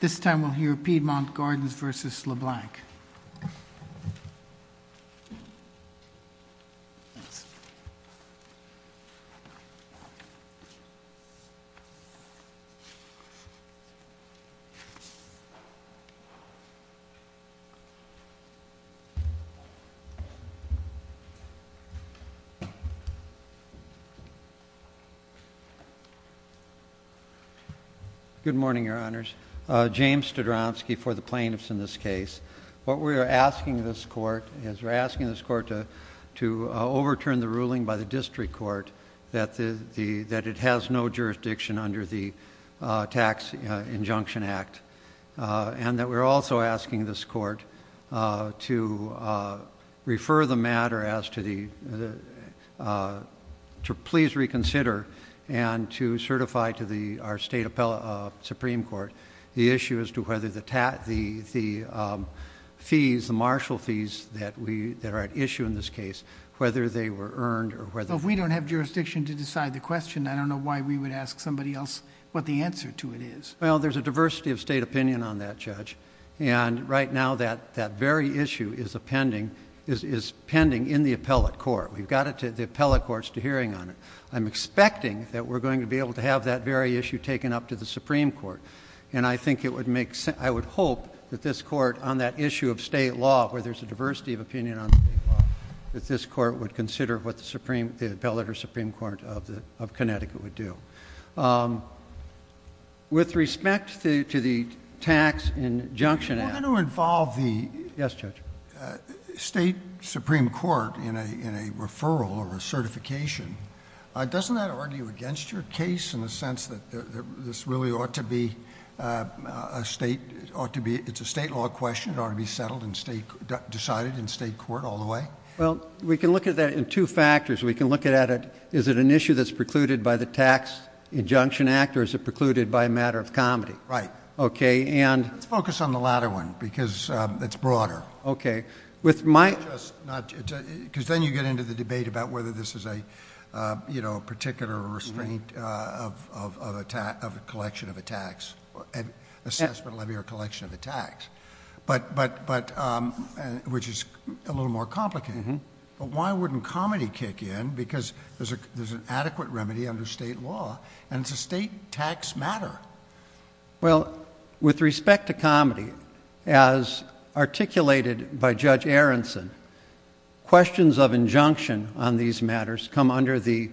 This time we'll hear Piedmont Gardens v. LeBlanc. Good morning, Your Honors. James Studronsky for the plaintiffs in this case. What we are asking this court is we're asking this court to overturn the ruling by the district court that it has no jurisdiction under the Tax Injunction Act. And that we're also asking this court to refer the matter as to the, to please reconsider and to certify to our state Supreme Court the issue as to whether the fees, the marshal fees that are at issue in this case, whether they were earned or whether... Well, if we don't have jurisdiction to decide the question, I don't know why we would ask somebody else what the answer to it is. Well, there's a diversity of state opinion on that, Judge. And right now that very issue is pending in the appellate court. We've got the appellate courts to hearing on it. I'm expecting that we're going to be able to have that very issue taken up to the Supreme Court. And I think it would make... I would hope that this court on that issue of state law, where there's a diversity of opinion on state law, that this court would consider what the Supreme... the appellate or Supreme Court of Connecticut would do. With respect to the Tax Injunction Act... You want to involve the... Yes, Judge. State Supreme Court in a referral or a certification. Doesn't that argue against your case in the sense that this really ought to be a state... it's a state law question. It ought to be settled and decided in state court all the way? Well, we can look at that in two factors. We can look at it... is it an issue that's precluded by the Tax Injunction Act or is it precluded by a matter of comedy? Right. Okay, and... Let's focus on the latter one because it's broader. Okay. With my... Not just... because then you get into the debate about whether this is a particular restraint of a collection of a tax, an assessment levy or a collection of a tax. But... which is a little more complicated. But why wouldn't comedy kick in because there's an adequate remedy under state law and it's a state tax matter. Well, with respect to comedy, as articulated by Judge Aronson, questions of injunction on these matters come under the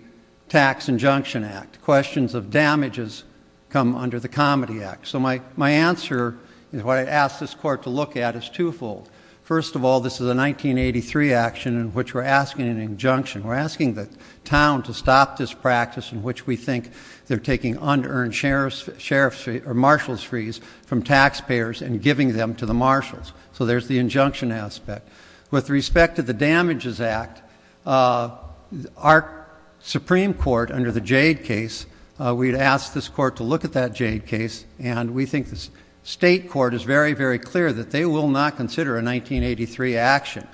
Tax Injunction Act. Questions of damages come under the Comedy Act. So, my answer is what I asked this court to look at is twofold. First of all, this is a 1983 action in which we're asking an injunction. We're asking the town to stop this practice in which we think they're taking unearned sheriff's fees or marshal's fees from taxpayers and giving them to the marshals. So, there's the injunction aspect. With respect to the Damages Act, our Supreme Court under the Jade case, we'd ask this court to look at that Jade case and we think the state court is very, very clear that they will not consider a 1983 action.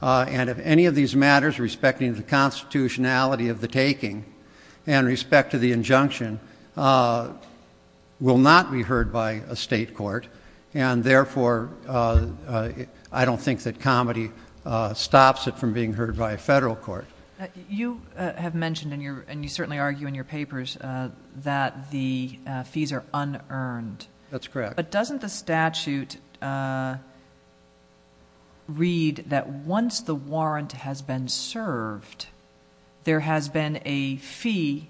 And if any of these matters, respecting the constitutionality of the taking and respect to the injunction, will not be heard by a state court. And therefore, I don't think that comedy stops it from being heard by a federal court. You have mentioned and you certainly argue in your papers that the fees are unearned. That's correct. But doesn't the statute read that once the warrant has been served, there has been a fee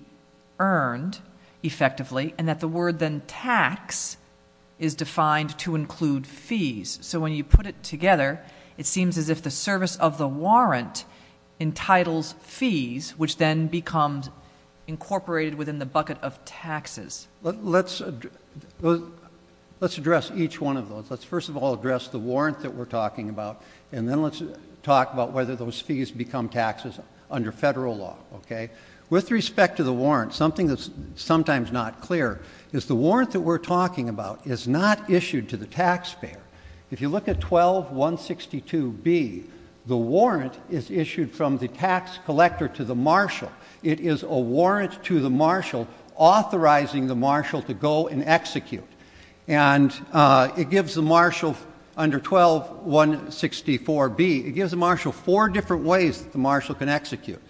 earned effectively and that the word then tax is defined to include fees. So, when you put it together, it seems as if the service of the warrant entitles fees which then becomes incorporated within the bucket of taxes. Let's address each one of those. Let's first of all address the warrant that we're talking about and then let's talk about whether those fees become taxes under federal law. With respect to the warrant, something that's sometimes not clear is the warrant that we're talking about is not issued to the taxpayer. If you look at 12162B, the warrant is issued from the tax collector to the marshal. It is a warrant to the marshal authorizing the marshal to go and execute. And it gives the marshal under 12164B, it gives the marshal four different ways that the marshal can execute.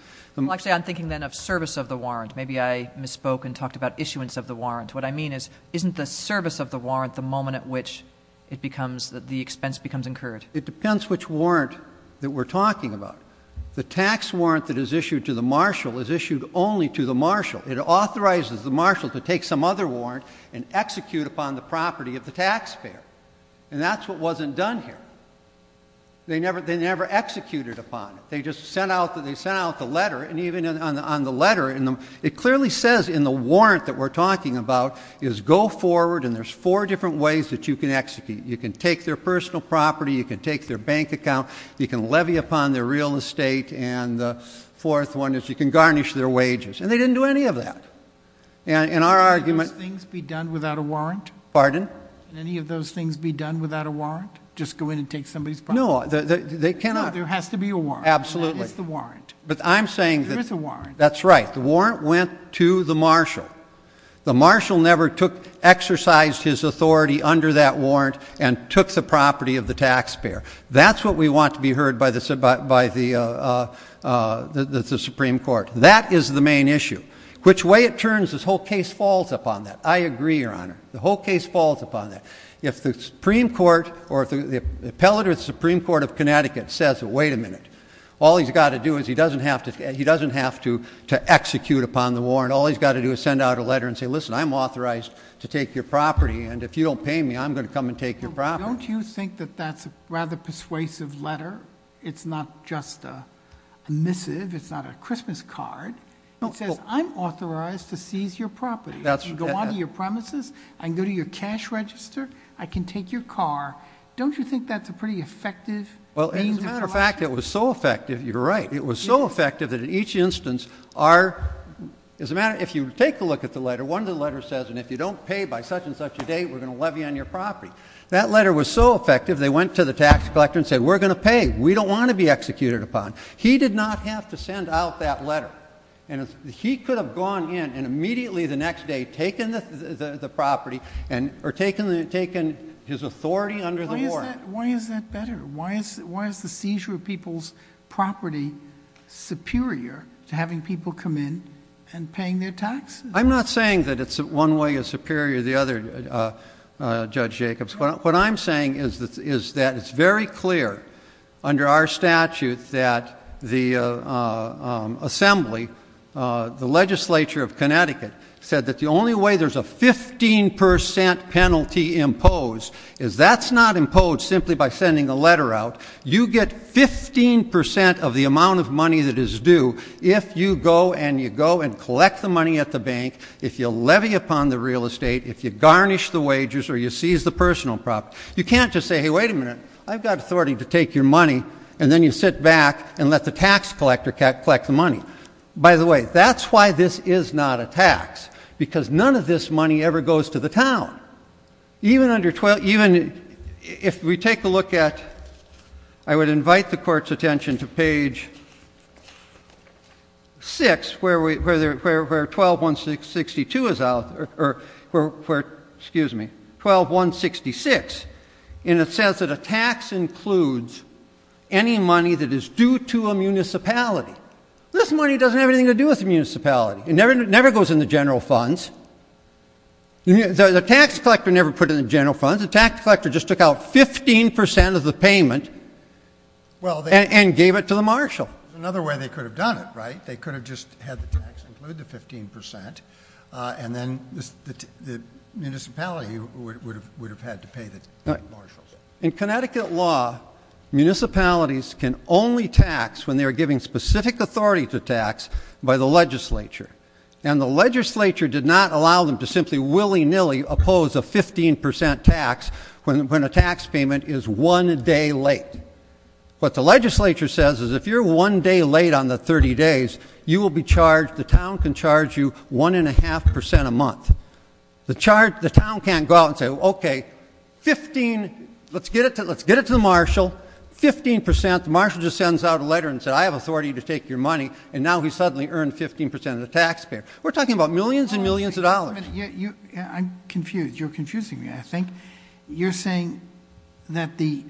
Actually, I'm thinking then of service of the warrant. Maybe I misspoke and talked about issuance of the warrant. What I mean is, isn't the service of the warrant the moment at which it becomes, the expense becomes incurred? It depends which warrant that we're talking about. The tax warrant that is issued to the marshal is issued only to the marshal. It authorizes the marshal to take some other warrant and execute upon the property of the taxpayer. And that's what wasn't done here. They never executed upon it. They just sent out the letter and even on the letter, it clearly says in the warrant that we're talking about, is go forward and there's four different ways that you can execute. You can take their personal property. You can take their bank account. You can levy upon their real estate. And the fourth one is you can garnish their wages. And they didn't do any of that. In our argument — Can any of those things be done without a warrant? Pardon? Can any of those things be done without a warrant? Just go in and take somebody's property? No, they cannot. No, there has to be a warrant. Absolutely. And that is the warrant. But I'm saying that — There is a warrant. That's right. The warrant went to the marshal. The marshal never exercised his authority under that warrant and took the property of the taxpayer. That's what we want to be heard by the Supreme Court. That is the main issue. Which way it turns, this whole case falls upon that. I agree, Your Honor. The whole case falls upon that. If the Supreme Court or the appellate of the Supreme Court of Connecticut says, Wait a minute. All he's got to do is he doesn't have to execute upon the warrant. All he's got to do is send out a letter and say, Listen, I'm authorized to take your property. And if you don't pay me, I'm going to come and take your property. Don't you think that that's a rather persuasive letter? It's not just a missive. It's not a Christmas card. It says, I'm authorized to seize your property. I can go onto your premises. I can go to your cash register. I can take your car. Don't you think that's a pretty effective — Well, as a matter of fact, it was so effective. You're right. It was so effective that in each instance our — if you take a look at the letter, one of the letters says, And if you don't pay by such and such a date, we're going to levy on your property. That letter was so effective, they went to the tax collector and said, We're going to pay. We don't want to be executed upon. He did not have to send out that letter. And he could have gone in and immediately the next day taken the property or taken his authority under the warrant. Why is that better? Why is the seizure of people's property superior to having people come in and paying their taxes? I'm not saying that one way is superior to the other, Judge Jacobs. What I'm saying is that it's very clear under our statute that the Assembly, the legislature of Connecticut, said that the only way there's a 15 percent penalty imposed is that's not imposed simply by sending a letter out. You get 15 percent of the amount of money that is due if you go and you go and collect the money at the bank, if you levy upon the real estate, if you garnish the wages or you seize the personal property. You can't just say, Hey, wait a minute. I've got authority to take your money. And then you sit back and let the tax collector collect the money. By the way, that's why this is not a tax, because none of this money ever goes to the town. Even if we take a look at, I would invite the court's attention to page 6, where 12-162 is out, or 12-166, and it says that a tax includes any money that is due to a municipality. This money doesn't have anything to do with the municipality. It never goes in the general funds. The tax collector never put it in the general funds. The tax collector just took out 15 percent of the payment and gave it to the marshal. Another way they could have done it, right? They could have just had the tax include the 15 percent, and then the municipality would have had to pay the marshals. In Connecticut law, municipalities can only tax when they are giving specific authority to tax by the legislature. And the legislature did not allow them to simply willy-nilly oppose a 15 percent tax when a tax payment is one day late. What the legislature says is if you're one day late on the 30 days, you will be charged, the town can charge you one and a half percent a month. The town can't go out and say, okay, let's get it to the marshal, 15 percent. The marshal just sends out a letter and says, I have authority to take your money, and now he's suddenly earned 15 percent of the tax pay. We're talking about millions and millions of dollars. I'm confused. You're confusing me, I think. You're saying that the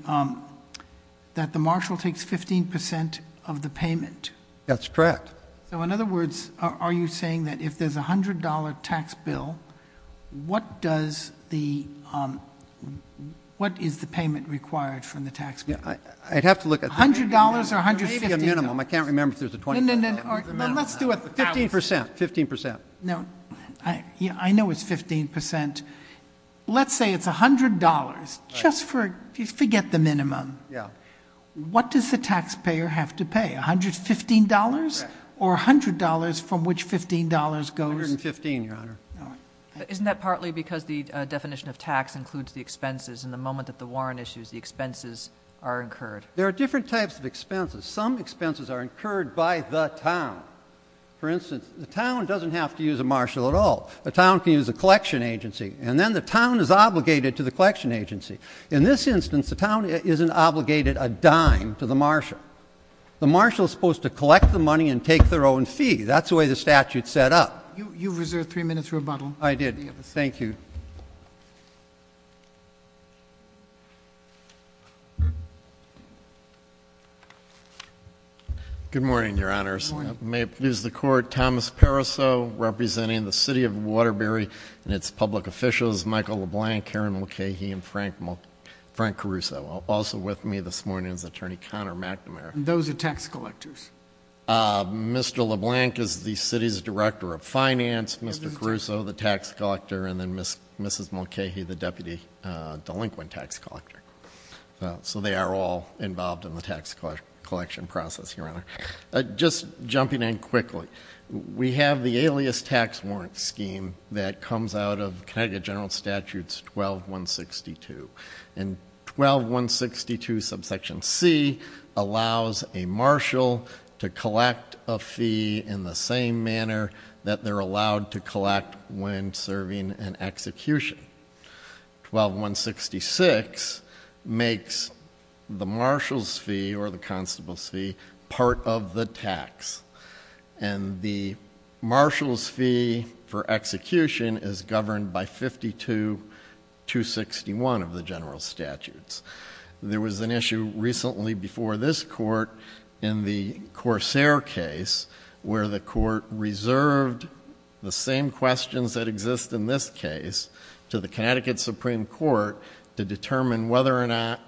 marshal takes 15 percent of the payment. That's correct. So in other words, are you saying that if there's a $100 tax bill, what is the payment required from the tax bill? I'd have to look at that. $100 or $150. Maybe a minimum. I can't remember if there's a $20. No, no, no. Let's do a 15 percent, 15 percent. No. I know it's 15 percent. Let's say it's $100. Just forget the minimum. Yeah. What does the taxpayer have to pay, $115 or $100 from which $15 goes? $115, Your Honor. Isn't that partly because the definition of tax includes the expenses, and the moment that the warrant issues, the expenses are incurred? There are different types of expenses. Some expenses are incurred by the town. For instance, the town doesn't have to use a marshal at all. The town can use a collection agency, and then the town is obligated to the collection agency. In this instance, the town isn't obligated a dime to the marshal. The marshal is supposed to collect the money and take their own fee. That's the way the statute's set up. You've reserved three minutes for rebuttal. I did. Thank you. Good morning, Your Honors. Good morning. May it please the Court, Thomas Pariseau representing the City of Waterbury and its public officials, Michael LeBlanc, Karen Mulcahy, and Frank Caruso. Also with me this morning is Attorney Connor McNamara. Those are tax collectors. Mr. LeBlanc is the city's director of finance, Mr. Caruso, the tax collector, and then Mrs. Mulcahy, the deputy delinquent tax collector. So they are all involved in the tax collection process, Your Honor. Just jumping in quickly. We have the alias tax warrant scheme that comes out of Connecticut General Statute 12162. And 12162 subsection C allows a marshal to collect a fee in the same manner that they're allowed to collect when serving an execution. 12166 makes the marshal's fee or the constable's fee part of the tax. And the marshal's fee for execution is governed by 52261 of the general statutes. There was an issue recently before this court in the Corsair case where the court reserved the same questions that exist in this case to the Connecticut Supreme Court to determine whether or not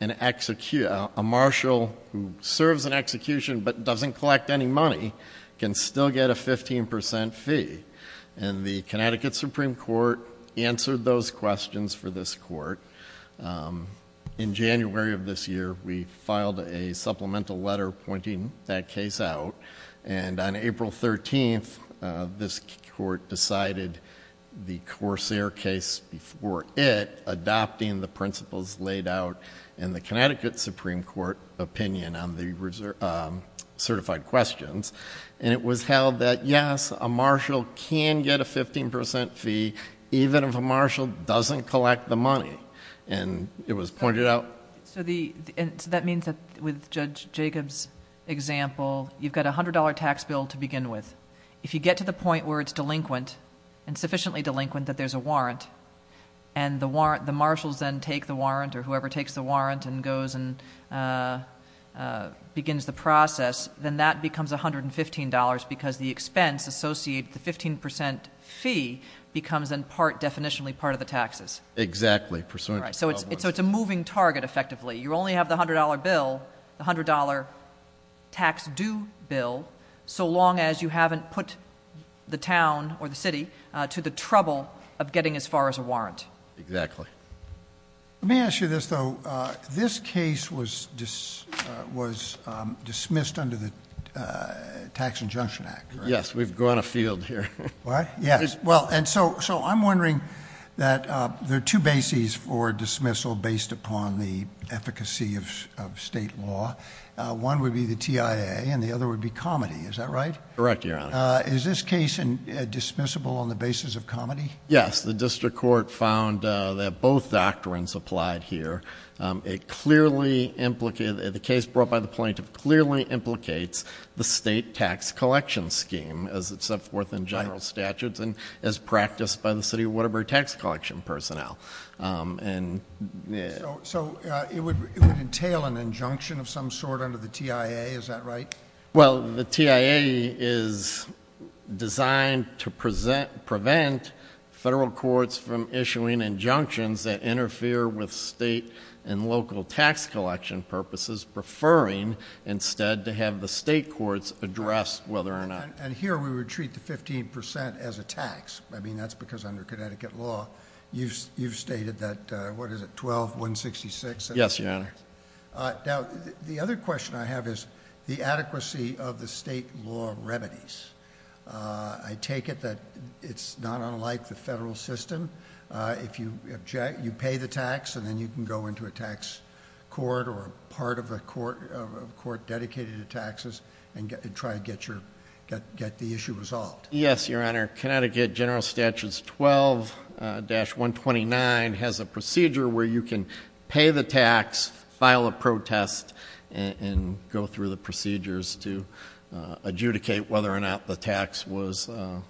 a marshal who serves an execution but doesn't collect any money can still get a 15% fee. And the Connecticut Supreme Court answered those questions for this court. In January of this year, we filed a supplemental letter pointing that case out. And on April 13th, this court decided the Corsair case before it, adopting the principles laid out in the Connecticut Supreme Court opinion on the certified questions. And it was held that yes, a marshal can get a 15% fee even if a marshal doesn't collect the money. And it was pointed out. So that means that with Judge Jacob's example, you've got a $100 tax bill to begin with. If you get to the point where it's delinquent and sufficiently delinquent that there's a warrant, and the marshals then take the warrant or whoever takes the warrant and goes and begins the process, then that becomes $115 because the expense associated with the 15% fee becomes in part definitionally part of the taxes. Exactly. So it's a moving target, effectively. You only have the $100 bill, the $100 tax due bill, so long as you haven't put the town or the city to the trouble of getting as far as a warrant. Exactly. Let me ask you this, though. This case was dismissed under the Tax Injunction Act, correct? Yes, we've grown a field here. What? Yes. So I'm wondering that there are two bases for dismissal based upon the efficacy of state law. One would be the TIA and the other would be comity. Is that right? Correct, Your Honor. Is this case dismissible on the basis of comity? Yes. The district court found that both doctrines applied here. The case brought by the plaintiff clearly implicates the state tax collection scheme, as it's set forth in general statutes and as practiced by the City of Waterbury tax collection personnel. So it would entail an injunction of some sort under the TIA, is that right? Well, the TIA is designed to prevent federal courts from issuing injunctions that interfere with state and local tax collection purposes, preferring instead to have the state courts address whether or not. And here we would treat the 15% as a tax. I mean, that's because under Connecticut law you've stated that, what is it, 12, 166? Yes, Your Honor. Now, the other question I have is the adequacy of the state law remedies. I take it that it's not unlike the federal system. If you pay the tax and then you can go into a tax court or a part of a court dedicated to taxes and try to get the issue resolved. Yes, Your Honor. Connecticut General Statutes 12-129 has a procedure where you can pay the tax, file a protest, and go through the procedures to adjudicate whether or not the tax was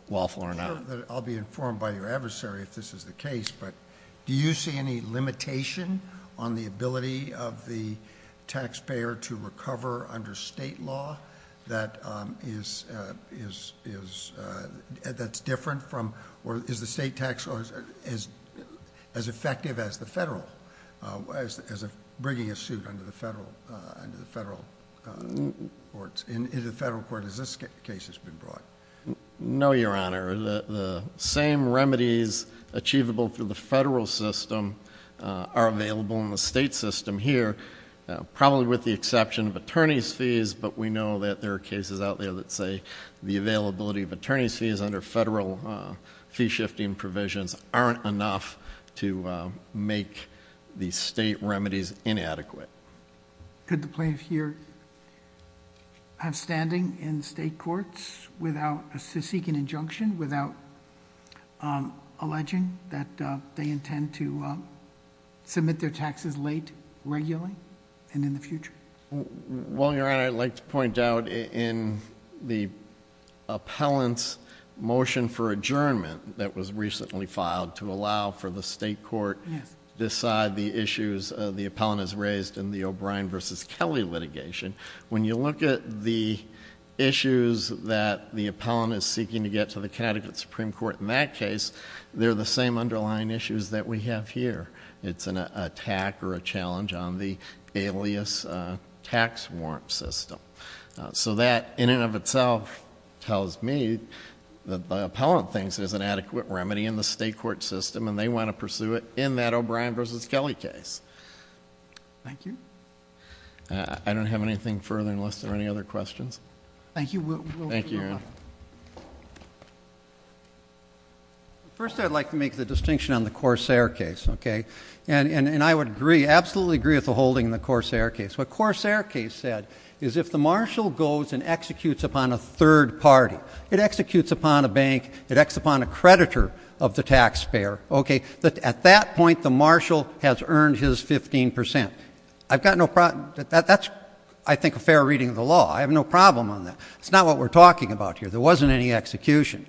lawful or not. I'll be informed by your adversary if this is the case, but do you see any limitation on the ability of the taxpayer to recover under state law that's different from, or is the state tax as effective as the federal, as bringing a suit under the federal courts, in the federal court as this case has been brought? No, Your Honor. The same remedies achievable through the federal system are available in the state system here, probably with the exception of attorney's fees, but we know that there are cases out there that say the availability of attorney's fees under federal fee-shifting provisions aren't enough to make the state remedies inadequate. Could the plaintiff here have standing in state courts without seeking injunction, without alleging that they intend to submit their taxes late, regularly, and in the future? Well, Your Honor, I'd like to point out in the appellant's motion for adjournment that was recently filed to allow for the state court to decide the issues the appellant has raised in the O'Brien v. Kelly litigation. When you look at the issues that the appellant is seeking to get to the Connecticut Supreme Court in that case, they're the same underlying issues that we have here. It's an attack or a challenge on the alias tax warrant system. So that, in and of itself, tells me that the appellant thinks there's an adequate remedy in the state court system and they want to pursue it in that O'Brien v. Kelly case. Thank you. I don't have anything further unless there are any other questions. Thank you. Thank you, Your Honor. First, I'd like to make the distinction on the Corsair case, okay? And I would absolutely agree with the holding in the Corsair case. What Corsair case said is if the marshal goes and executes upon a third party, it executes upon a bank, it acts upon a creditor of the taxpayer, okay? At that point, the marshal has earned his 15%. I've got no problem. That's, I think, a fair reading of the law. I have no problem on that. It's not what we're talking about here. There wasn't any execution.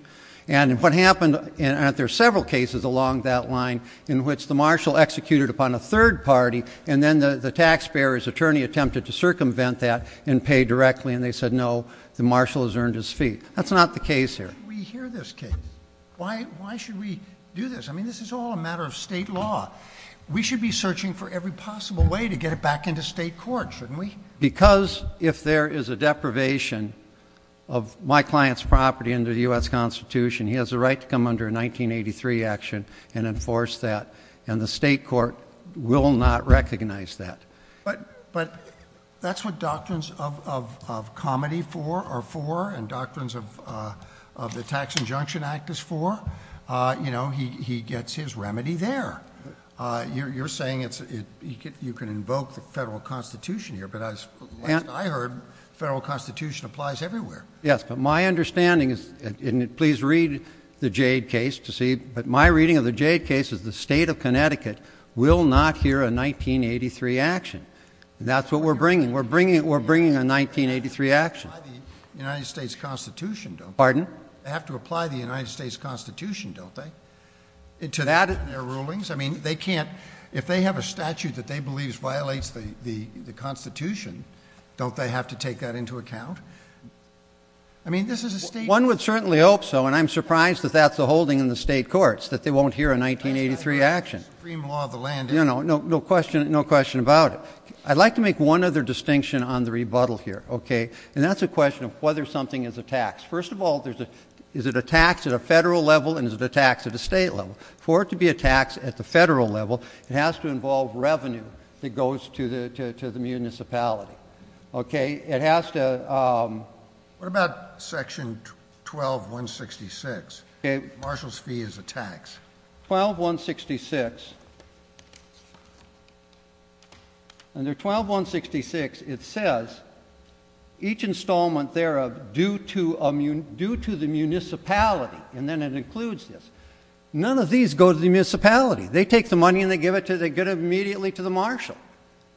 And what happened, and there are several cases along that line in which the marshal executed upon a third party and then the taxpayer's attorney attempted to circumvent that and pay directly, and they said, no, the marshal has earned his fee. That's not the case here. Why should we hear this case? Why should we do this? I mean, this is all a matter of state law. We should be searching for every possible way to get it back into state court, shouldn't we? Because if there is a deprivation of my client's property under the U.S. Constitution, he has a right to come under a 1983 action and enforce that, and the state court will not recognize that. But that's what doctrines of comedy are for and doctrines of the Tax Injunction Act is for. You know, he gets his remedy there. You're saying you can invoke the federal Constitution here, but as I heard, the federal Constitution applies everywhere. Yes, but my understanding is, and please read the Jade case to see, but my reading of the Jade case is the state of Connecticut will not hear a 1983 action. That's what we're bringing. We're bringing a 1983 action. They have to apply the United States Constitution, don't they? Pardon? They have to apply the United States Constitution, don't they, to their rulings? I mean, if they have a statute that they believe violates the Constitution, don't they have to take that into account? I mean, this is a state court. And I'm surprised that that's a holding in the state courts, that they won't hear a 1983 action. Supreme law of the land. No question about it. I'd like to make one other distinction on the rebuttal here, okay? And that's a question of whether something is a tax. First of all, is it a tax at a federal level and is it a tax at a state level? For it to be a tax at the federal level, it has to involve revenue that goes to the municipality. Okay? What about Section 12-166? Marshall's fee is a tax. 12-166. Under 12-166, it says each installment thereof due to the municipality. And then it includes this. None of these go to the municipality. They take the money and they give it immediately to the marshal.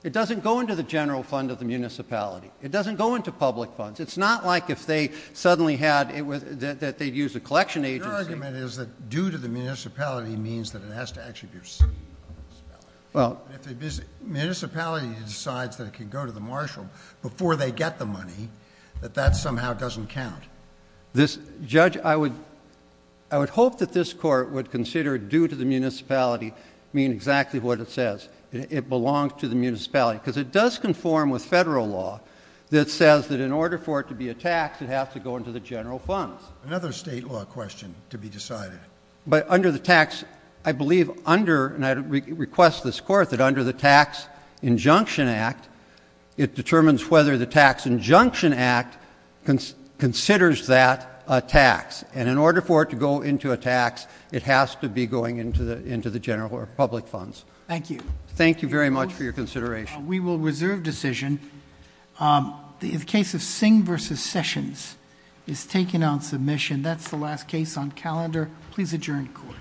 It doesn't go into the general fund of the municipality. It doesn't go into public funds. It's not like if they suddenly had it that they'd use a collection agency. Your argument is that due to the municipality means that it has to actually be received by the municipality. If the municipality decides that it can go to the marshal before they get the money, that that somehow doesn't count. Judge, I would hope that this court would consider due to the municipality mean exactly what it says. It belongs to the municipality. Because it does conform with federal law that says that in order for it to be a tax, it has to go into the general funds. Another state law question to be decided. But under the tax, I believe under, and I request this court that under the Tax Injunction Act, it determines whether the Tax Injunction Act considers that a tax. And in order for it to go into a tax, it has to be going into the general or public funds. Thank you. Thank you very much for your consideration. We will reserve decision. The case of Singh versus Sessions is taken on submission. That's the last case on calendar. Please adjourn court.